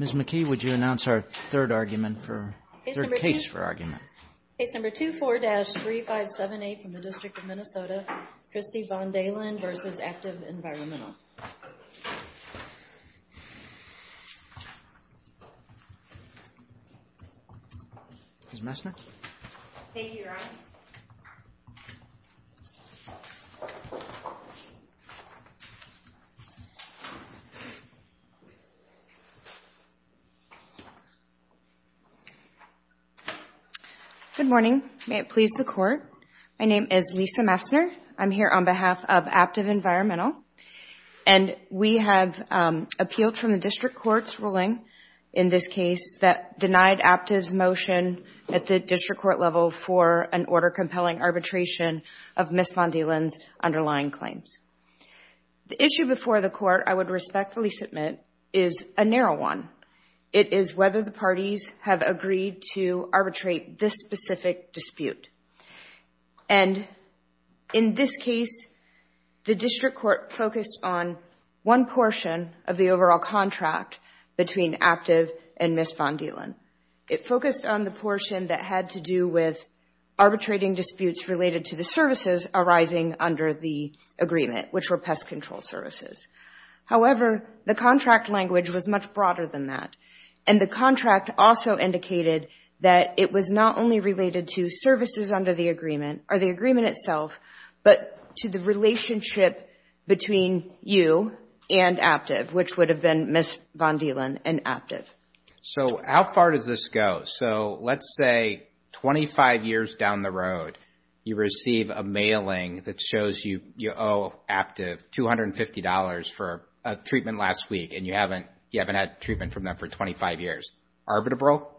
Ms. McKee, would you announce our third case for argument? Case number 24-3578 from the District of Minnesota, Kristi VonDeylen v. Aptive Environmental. Ms. Messner. Thank you, Ron. Good morning. May it please the Court. My name is Lisa Messner. I'm here on behalf of Aptive Environmental, and we have appealed from the District Court's ruling in this case that denied Aptive's motion at the District Court level for an order-compelling arbitration of Ms. VonDeylen's underlying claims. The issue before the Court I would respectfully submit is a narrow one. It is whether the parties have agreed to arbitrate this specific dispute. And in this case, the District Court focused on one portion of the overall contract between Aptive and Ms. VonDeylen. It focused on the portion that had to do with arbitrating disputes related to the services arising under the agreement, which were pest control services. However, the contract language was much broader than that, and the contract also indicated that it was not only related to services under the agreement or the agreement itself, but to the relationship between you and Aptive, which would have been Ms. VonDeylen and Aptive. So how far does this go? So let's say 25 years down the road, you receive a mailing that shows you owe Aptive $250 for a treatment last week, and you haven't had treatment from them for 25 years. Arbitral?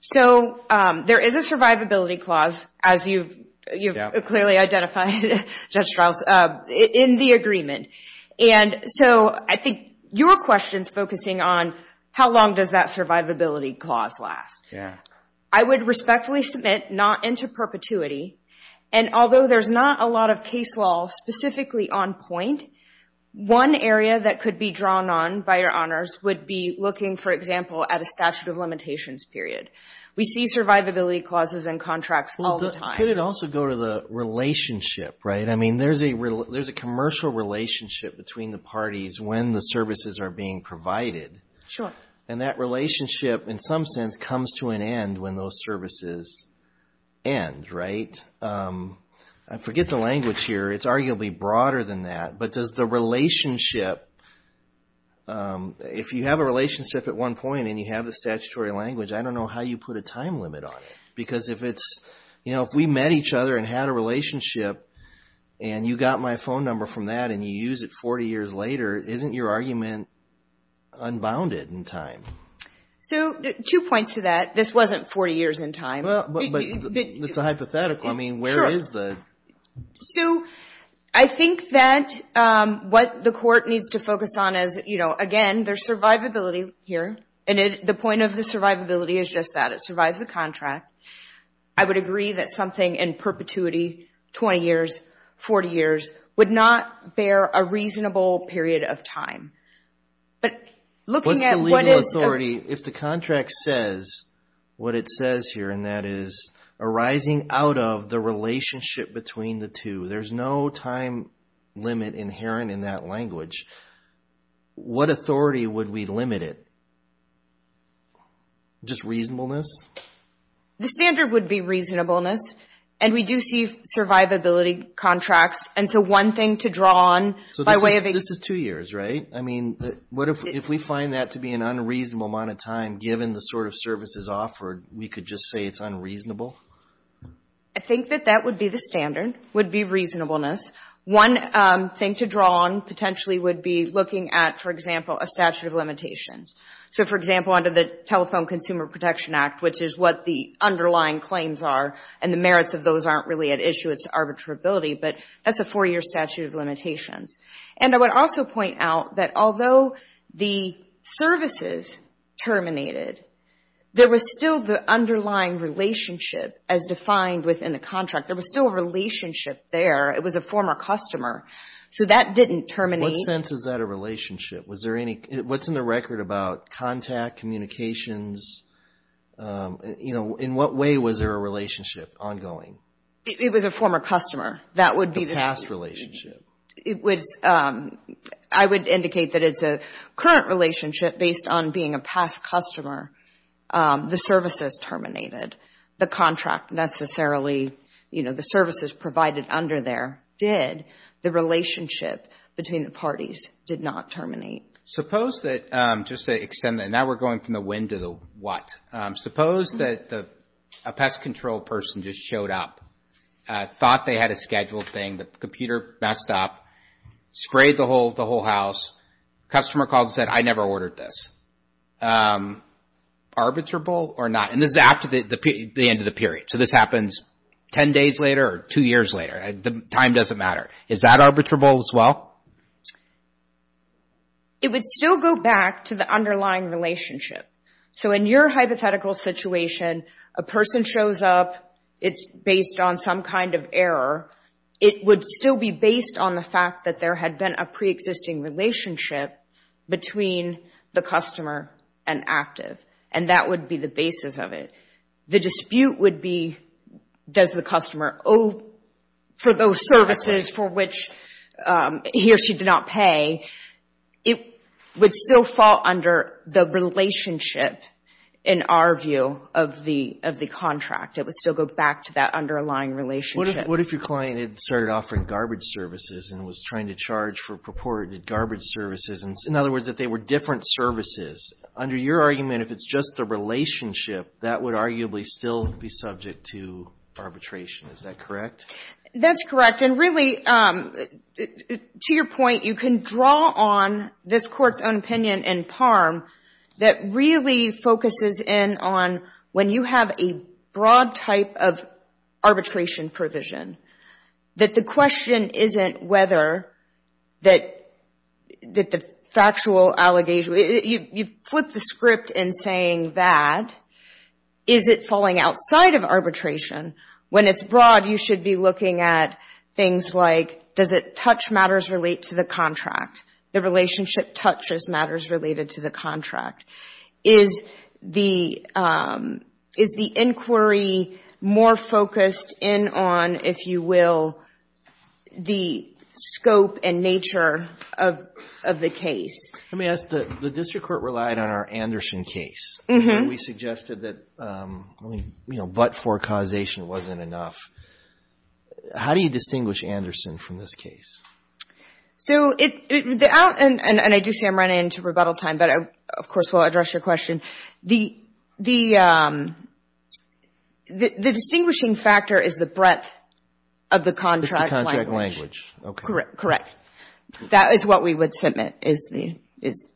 So there is a survivability clause, as you've clearly identified, Judge Strauss, in the agreement. And so I think your question's focusing on how long does that survivability clause last. I would respectfully submit not into perpetuity. And although there's not a lot of case law specifically on point, one area that could be drawn on by your honors would be looking, for example, at a statute of limitations period. We see survivability clauses in contracts all the time. Could it also go to the relationship, right? I mean, there's a commercial relationship between the parties when the services are being provided. Sure. And that relationship, in some sense, comes to an end when those services end, right? I forget the language here. It's arguably broader than that. But does the relationship, if you have a relationship at one point and you have the statutory language, I don't know how you put a time limit on it. Because if it's, you know, if we met each other and had a relationship and you got my phone number from that and you use it 40 years later, isn't your argument unbounded in time? So, two points to that. This wasn't 40 years in time. But it's a hypothetical. I mean, where is the... Sue, I think that what the court needs to focus on is, you know, again, there's survivability here. And the point of the survivability is just that. It survives the contract. I would agree that something in perpetuity, 20 years, 40 years, would not bear a reasonable period of time. But looking at what is... There's no time limit inherent in that language. What authority would we limit it? Just reasonableness? The standard would be reasonableness. And we do see survivability contracts. And so, one thing to draw on by way of... So, this is two years, right? I mean, what if we find that to be an unreasonable amount of time, given the sort of services offered, we could just say it's unreasonable? I think that that would be the standard, would be reasonableness. One thing to draw on, potentially, would be looking at, for example, a statute of limitations. So, for example, under the Telephone Consumer Protection Act, which is what the underlying claims are, and the merits of those aren't really at issue. It's arbitrability. But that's a four-year statute of limitations. And I would also point out that although the services terminated, there was still the underlying relationship as defined within the contract. There was still a relationship there. It was a former customer. So, that didn't terminate. What sense is that a relationship? What's in the record about contact, communications? In what way was there a relationship ongoing? It was a former customer. That would be the... The past relationship. It was, I would indicate that it's a current relationship based on being a past customer. The services terminated. The contract necessarily, you know, the services provided under there did. The relationship between the parties did not terminate. Suppose that, just to extend that, now we're going from the when to the what. Suppose that a pest control person just showed up, thought they had a scheduled thing, the computer messed up, sprayed the whole house, customer called and said, I never ordered this. Is that arbitrable or not? And this is after the end of the period. So, this happens ten days later or two years later. The time doesn't matter. Is that arbitrable as well? It would still go back to the underlying relationship. So, in your hypothetical situation, a person shows up, it's based on some kind of error. It would still be based on the fact that there had been a preexisting relationship between the customer and active. And that would be the basis of it. The dispute would be, does the customer owe for those services for which he or she did not pay? It would still fall under the relationship, in our view, of the contract. It would still go back to that underlying relationship. What if your client had started offering garbage services and was trying to charge for purported garbage services? In other words, if they were different services, under your argument, if it's just the relationship, that would arguably still be subject to arbitration. Is that correct? That's correct. And really, to your point, you can draw on this Court's own opinion in PARM that really focuses in on when you have a broad type of arbitration provision, that the question isn't whether that the factual allegation — you flip the script in saying that. Is it falling outside of arbitration? When it's broad, you should be looking at things like, does it touch matters related to the contract? The relationship touches matters related to the contract. Is the inquiry more focused in on, if you will, the scope and nature of the case? Let me ask, the district court relied on our Anderson case. We suggested that but-for causation wasn't enough. How do you distinguish Anderson from this case? I do see I'm running into rebuttal time, but of course, we'll address your question. The distinguishing factor is the breadth of the contract language. It's the contract language. Correct. That is what we would submit.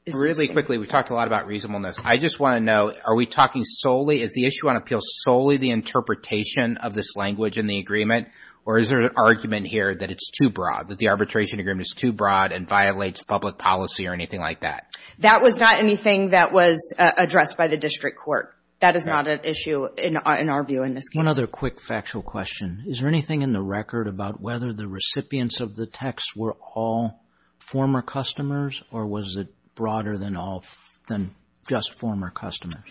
Really quickly, we talked a lot about reasonableness. I just want to know, are we talking solely — is the issue on appeals solely the interpretation of this language in the agreement, or is there an argument here that it's too broad, that the arbitration agreement is too broad and violates public policy or anything like that? That was not anything that was addressed by the district court. That is not an issue in our view in this case. One other quick factual question. Is there anything in the record about whether the recipients of the text were all former customers, or was it broader than just former customers?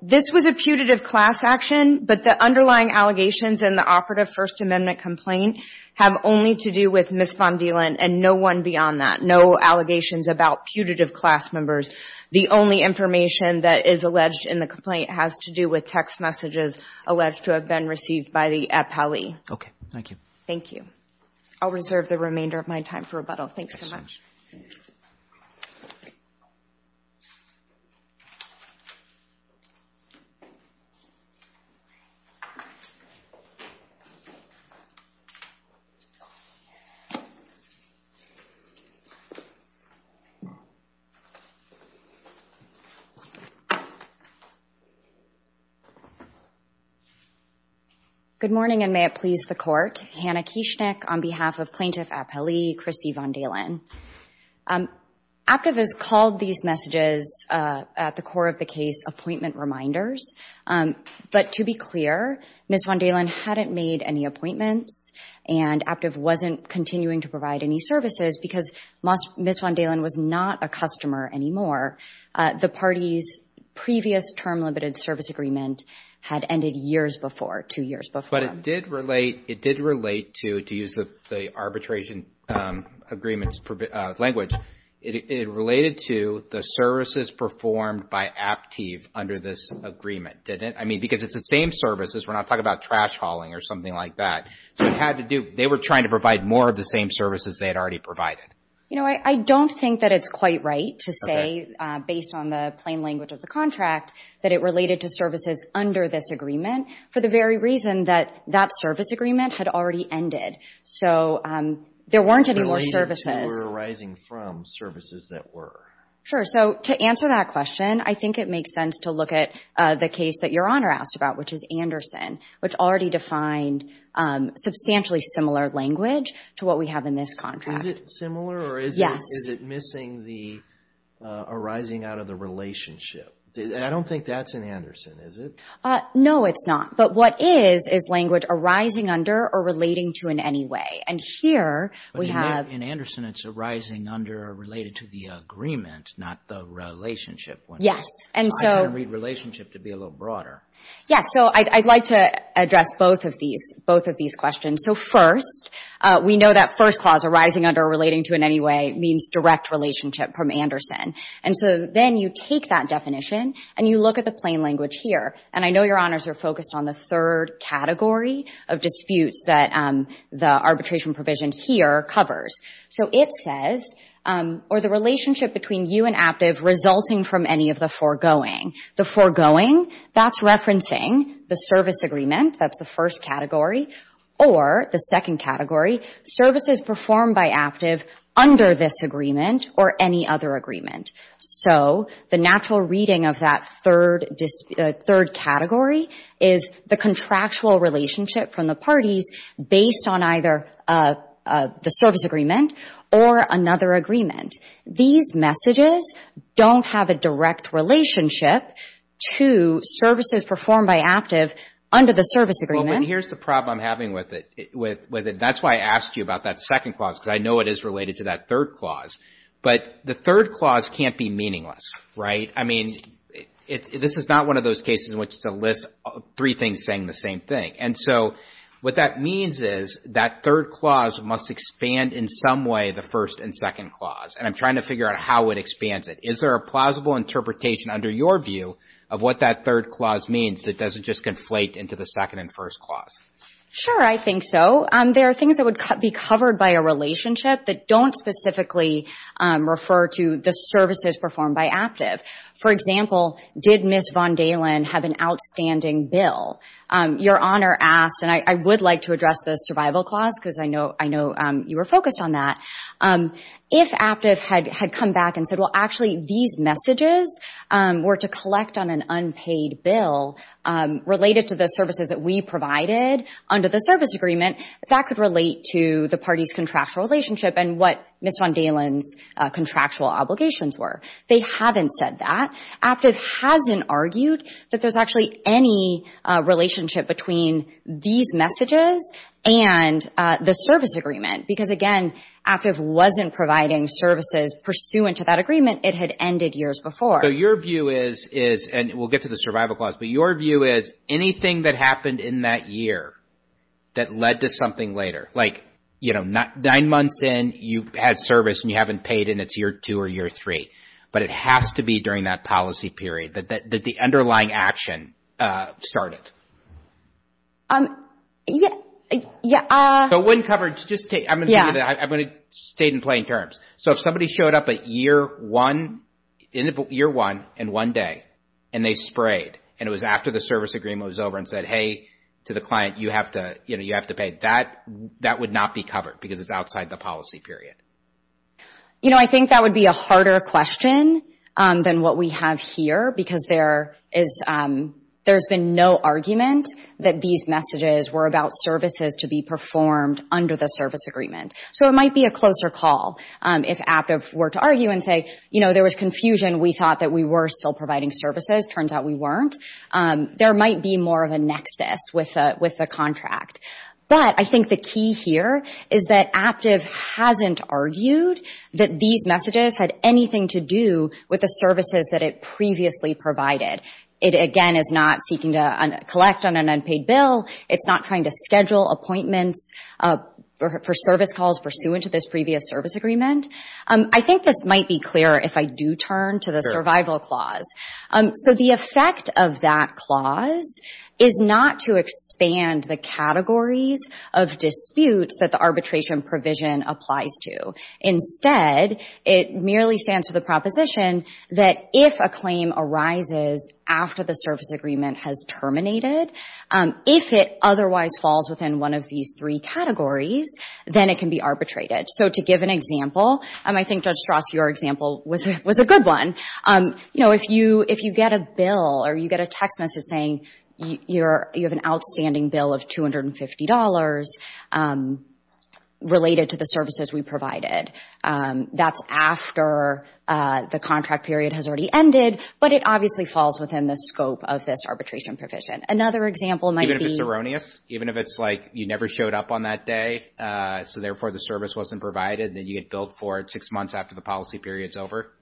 This was a putative class action, but the underlying allegations in the operative First Amendment complaint have only to do with Ms. Von Dielen and no one beyond that, no allegations about putative class members. The only information that is alleged in the complaint has to do with text messages alleged to have been received by the appellee. Okay. Thank you. Thank you. I'll reserve the remainder of my time for rebuttal. Thanks so much. Thank you. Good morning, and may it please the court. on behalf of Plaintiff Appellee Chrissy Von Dielen. Aptiv has called these messages, at the core of the case, appointment reminders. But to be clear, Ms. Von Dielen hadn't made any appointments, and Aptiv wasn't continuing to provide any services because Ms. Von Dielen was not a customer anymore. The party's previous term limited service agreement had ended years before, two years before. But it did relate to, to use the arbitration agreement's language, it related to the services performed by Aptiv under this agreement, didn't it? I mean, because it's the same services, we're not talking about trash hauling or something like that. So it had to do, they were trying to provide more of the same services they had already provided. You know, I don't think that it's quite right to say, based on the plain language of the contract, that it related to services under this agreement. For the very reason that that service agreement had already ended. So there weren't any more services. Related to or arising from services that were. Sure. So to answer that question, I think it makes sense to look at the case that Your Honor asked about, which is Anderson, which already defined substantially similar language to what we have in this contract. Is it similar or is it missing the arising out of the relationship? I don't think that's in Anderson, is it? No, it's not. But what is, is language arising under or relating to in any way? And here we have. In Anderson, it's arising under or related to the agreement, not the relationship. Yes, and so. I didn't read relationship to be a little broader. Yes, so I'd like to address both of these questions. So first, we know that first clause, arising under or relating to in any way, means direct relationship from Anderson. And so then you take that definition and you look at the plain language here. And I know Your Honors are focused on the third category of disputes that the arbitration provision here covers. So it says, or the relationship between you and Aptiv resulting from any of the foregoing. The foregoing, that's referencing the service agreement. That's the first category. Or the second category, services performed by Aptiv under this agreement or any other agreement. So the natural reading of that third category is the contractual relationship from the parties based on either the service agreement or another agreement. These messages don't have a direct relationship to services performed by Aptiv under the service agreement. Well, but here's the problem I'm having with it. That's why I asked you about that second clause, because I know it is related to that third clause. But the third clause can't be meaningless, right? I mean, this is not one of those cases in which it's a list of three things saying the same thing. And so what that means is that third clause must expand in some way the first and second clause. And I'm trying to figure out how it expands it. Is there a plausible interpretation under your view of what that third clause means that doesn't just conflate into the second and first clause? Sure, I think so. There are things that would be covered by a relationship that don't specifically refer to the services performed by Aptiv. For example, did Ms. Von Dahlen have an outstanding bill? Your Honor asked, and I would like to address the survival clause because I know you were focused on that. If Aptiv had come back and said, well, actually these messages were to collect on an unpaid bill related to the services that we provided under the service agreement, that could relate to the party's contractual relationship and what Ms. Von Dahlen's contractual obligations were. They haven't said that. Aptiv hasn't argued that there's actually any relationship between these messages and the service agreement. Because, again, Aptiv wasn't providing services pursuant to that agreement. It had ended years before. So your view is, and we'll get to the survival clause, but your view is anything that happened in that year that led to something later. Like, you know, nine months in, you had service and you haven't paid and it's year two or year three. But it has to be during that policy period that the underlying action started. Yeah. So when coverage, I'm going to state in plain terms. So if somebody showed up at year one and one day and they sprayed and it was after the service agreement was over and said, hey, to the client, you have to pay, that would not be covered because it's outside the policy period. You know, I think that would be a harder question than what we have here, because there's been no argument that these messages were about services to be performed under the service agreement. So it might be a closer call if Aptiv were to argue and say, you know, there was confusion. We thought that we were still providing services. Turns out we weren't. There might be more of a nexus with the contract. But I think the key here is that Aptiv hasn't argued that these messages had anything to do with the services that it previously provided. It, again, is not seeking to collect on an unpaid bill. It's not trying to schedule appointments for service calls pursuant to this previous service agreement. I think this might be clearer if I do turn to the survival clause. So the effect of that clause is not to expand the categories of disputes that the arbitration provision applies to. Instead, it merely stands to the proposition that if a claim arises after the service agreement has terminated, if it otherwise falls within one of these three categories, then it can be arbitrated. So to give an example, I think, Judge Strauss, your example was a good one. You know, if you get a bill or you get a text message saying you have an outstanding bill of $250 related to the services we provided, that's after the contract period has already ended, but it obviously falls within the scope of this arbitration provision. Another example might be— Even if it's erroneous? Even if it's like you never showed up on that day, so therefore the service wasn't provided, then you get billed for it six months after the policy period's over?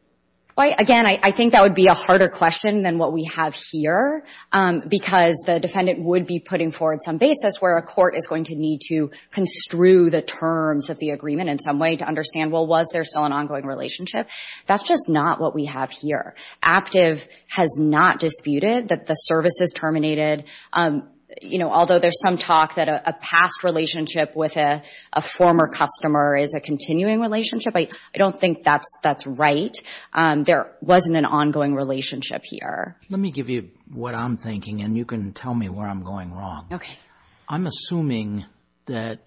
Again, I think that would be a harder question than what we have here because the defendant would be putting forward some basis where a court is going to need to construe the terms of the agreement in some way to understand, well, was there still an ongoing relationship? That's just not what we have here. Aptive has not disputed that the service is terminated. You know, although there's some talk that a past relationship with a former customer is a continuing relationship, I don't think that's right. There wasn't an ongoing relationship here. Let me give you what I'm thinking, and you can tell me where I'm going wrong. I'm assuming that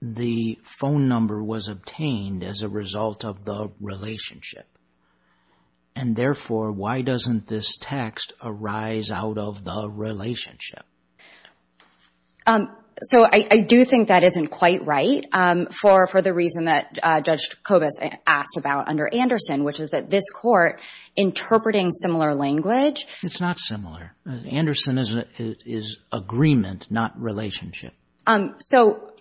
the phone number was obtained as a result of the relationship, and therefore why doesn't this text arise out of the relationship? So I do think that isn't quite right for the reason that Judge Kobus asked about under Anderson, which is that this Court interpreting similar language. It's not similar. Anderson is agreement, not relationship. So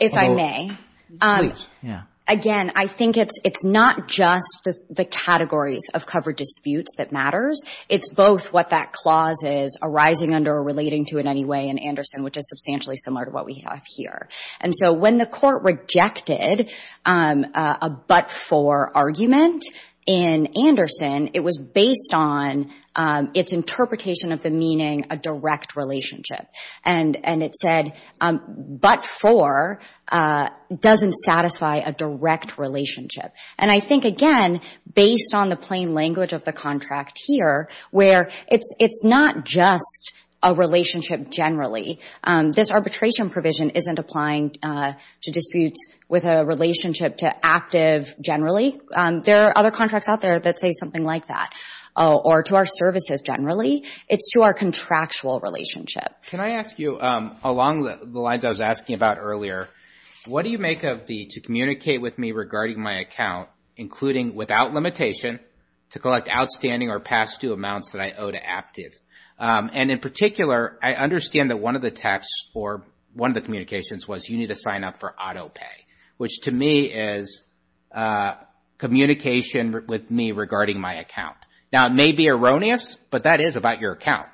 if I may. Please, yeah. Again, I think it's not just the categories of covered disputes that matters. It's both what that clause is arising under or relating to in any way in Anderson, which is substantially similar to what we have here. And so when the Court rejected a but-for argument in Anderson, it was based on its interpretation of the meaning a direct relationship, and it said but-for doesn't satisfy a direct relationship. And I think, again, based on the plain language of the contract here, where it's not just a relationship generally. This arbitration provision isn't applying to disputes with a relationship to active generally. There are other contracts out there that say something like that, or to our services generally. It's to our contractual relationship. Can I ask you, along the lines I was asking about earlier, what do you make of the to communicate with me regarding my account, including without limitation to collect outstanding or past due amounts that I owe to active? And in particular, I understand that one of the texts or one of the communications was you need to sign up for auto pay, which to me is communication with me regarding my account. Now, it may be erroneous, but that is about your account.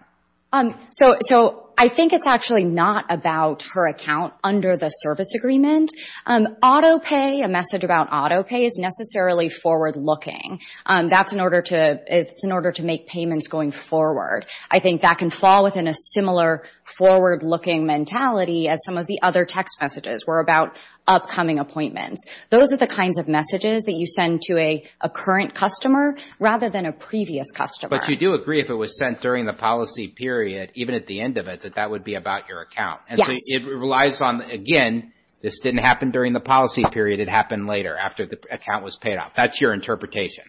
So I think it's actually not about her account under the service agreement. Auto pay, a message about auto pay, is necessarily forward-looking. That's in order to make payments going forward. I think that can fall within a similar forward-looking mentality as some of the other text messages were about upcoming appointments. Those are the kinds of messages that you send to a current customer rather than a previous customer. But you do agree if it was sent during the policy period, even at the end of it, that that would be about your account. Yes. It relies on, again, this didn't happen during the policy period. It happened later, after the account was paid off. That's your interpretation.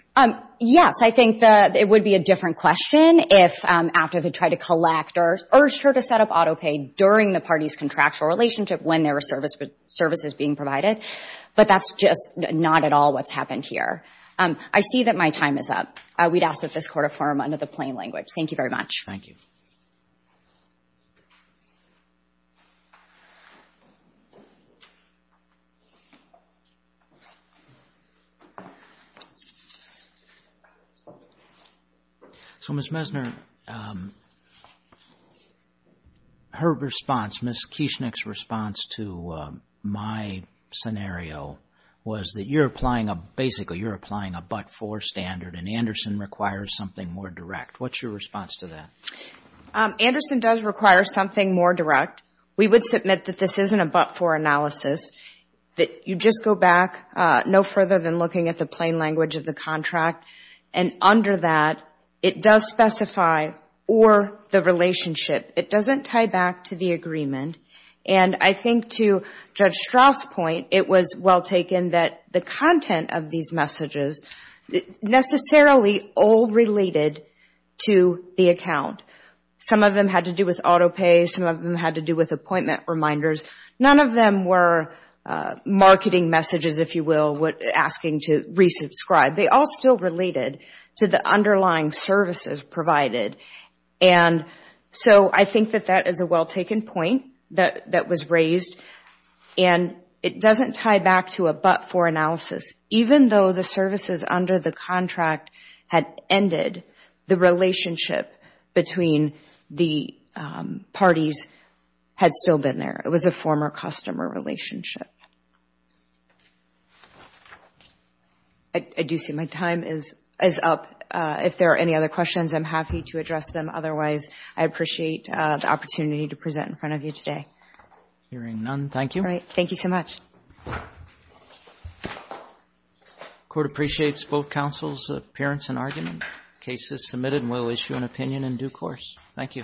Yes. I think that it would be a different question if active had tried to collect or urged her to set up auto pay during the party's contractual relationship when there were services being provided. But that's just not at all what's happened here. I see that my time is up. We'd ask that this court affirm under the plain language. Thank you very much. Thank you. So, Ms. Mesner, her response, Ms. Kieschnick's response to my scenario was that you're applying a but-for standard and Anderson requires something more direct. What's your response to that? Anderson does require something more direct. We would submit that this isn't a but-for analysis, that you just go back no further than looking at the plain language of the contract. And under that, it does specify or the relationship. It doesn't tie back to the agreement. And I think to Judge Strauss' point, it was well taken that the content of these messages necessarily all related to the account. Some of them had to do with auto pay. Some of them had to do with appointment reminders. None of them were marketing messages, if you will, asking to re-subscribe. They all still related to the underlying services provided. And so I think that that is a well taken point that was raised. And it doesn't tie back to a but-for analysis. Even though the services under the contract had ended, the relationship between the parties had still been there. It was a former customer relationship. I do see my time is up. If there are any other questions, I'm happy to address them. Otherwise, I appreciate the opportunity to present in front of you today. Hearing none, thank you. All right. Thank you so much. The Court appreciates both counsel's appearance and argument. The case is submitted and will issue an opinion in due course. Thank you.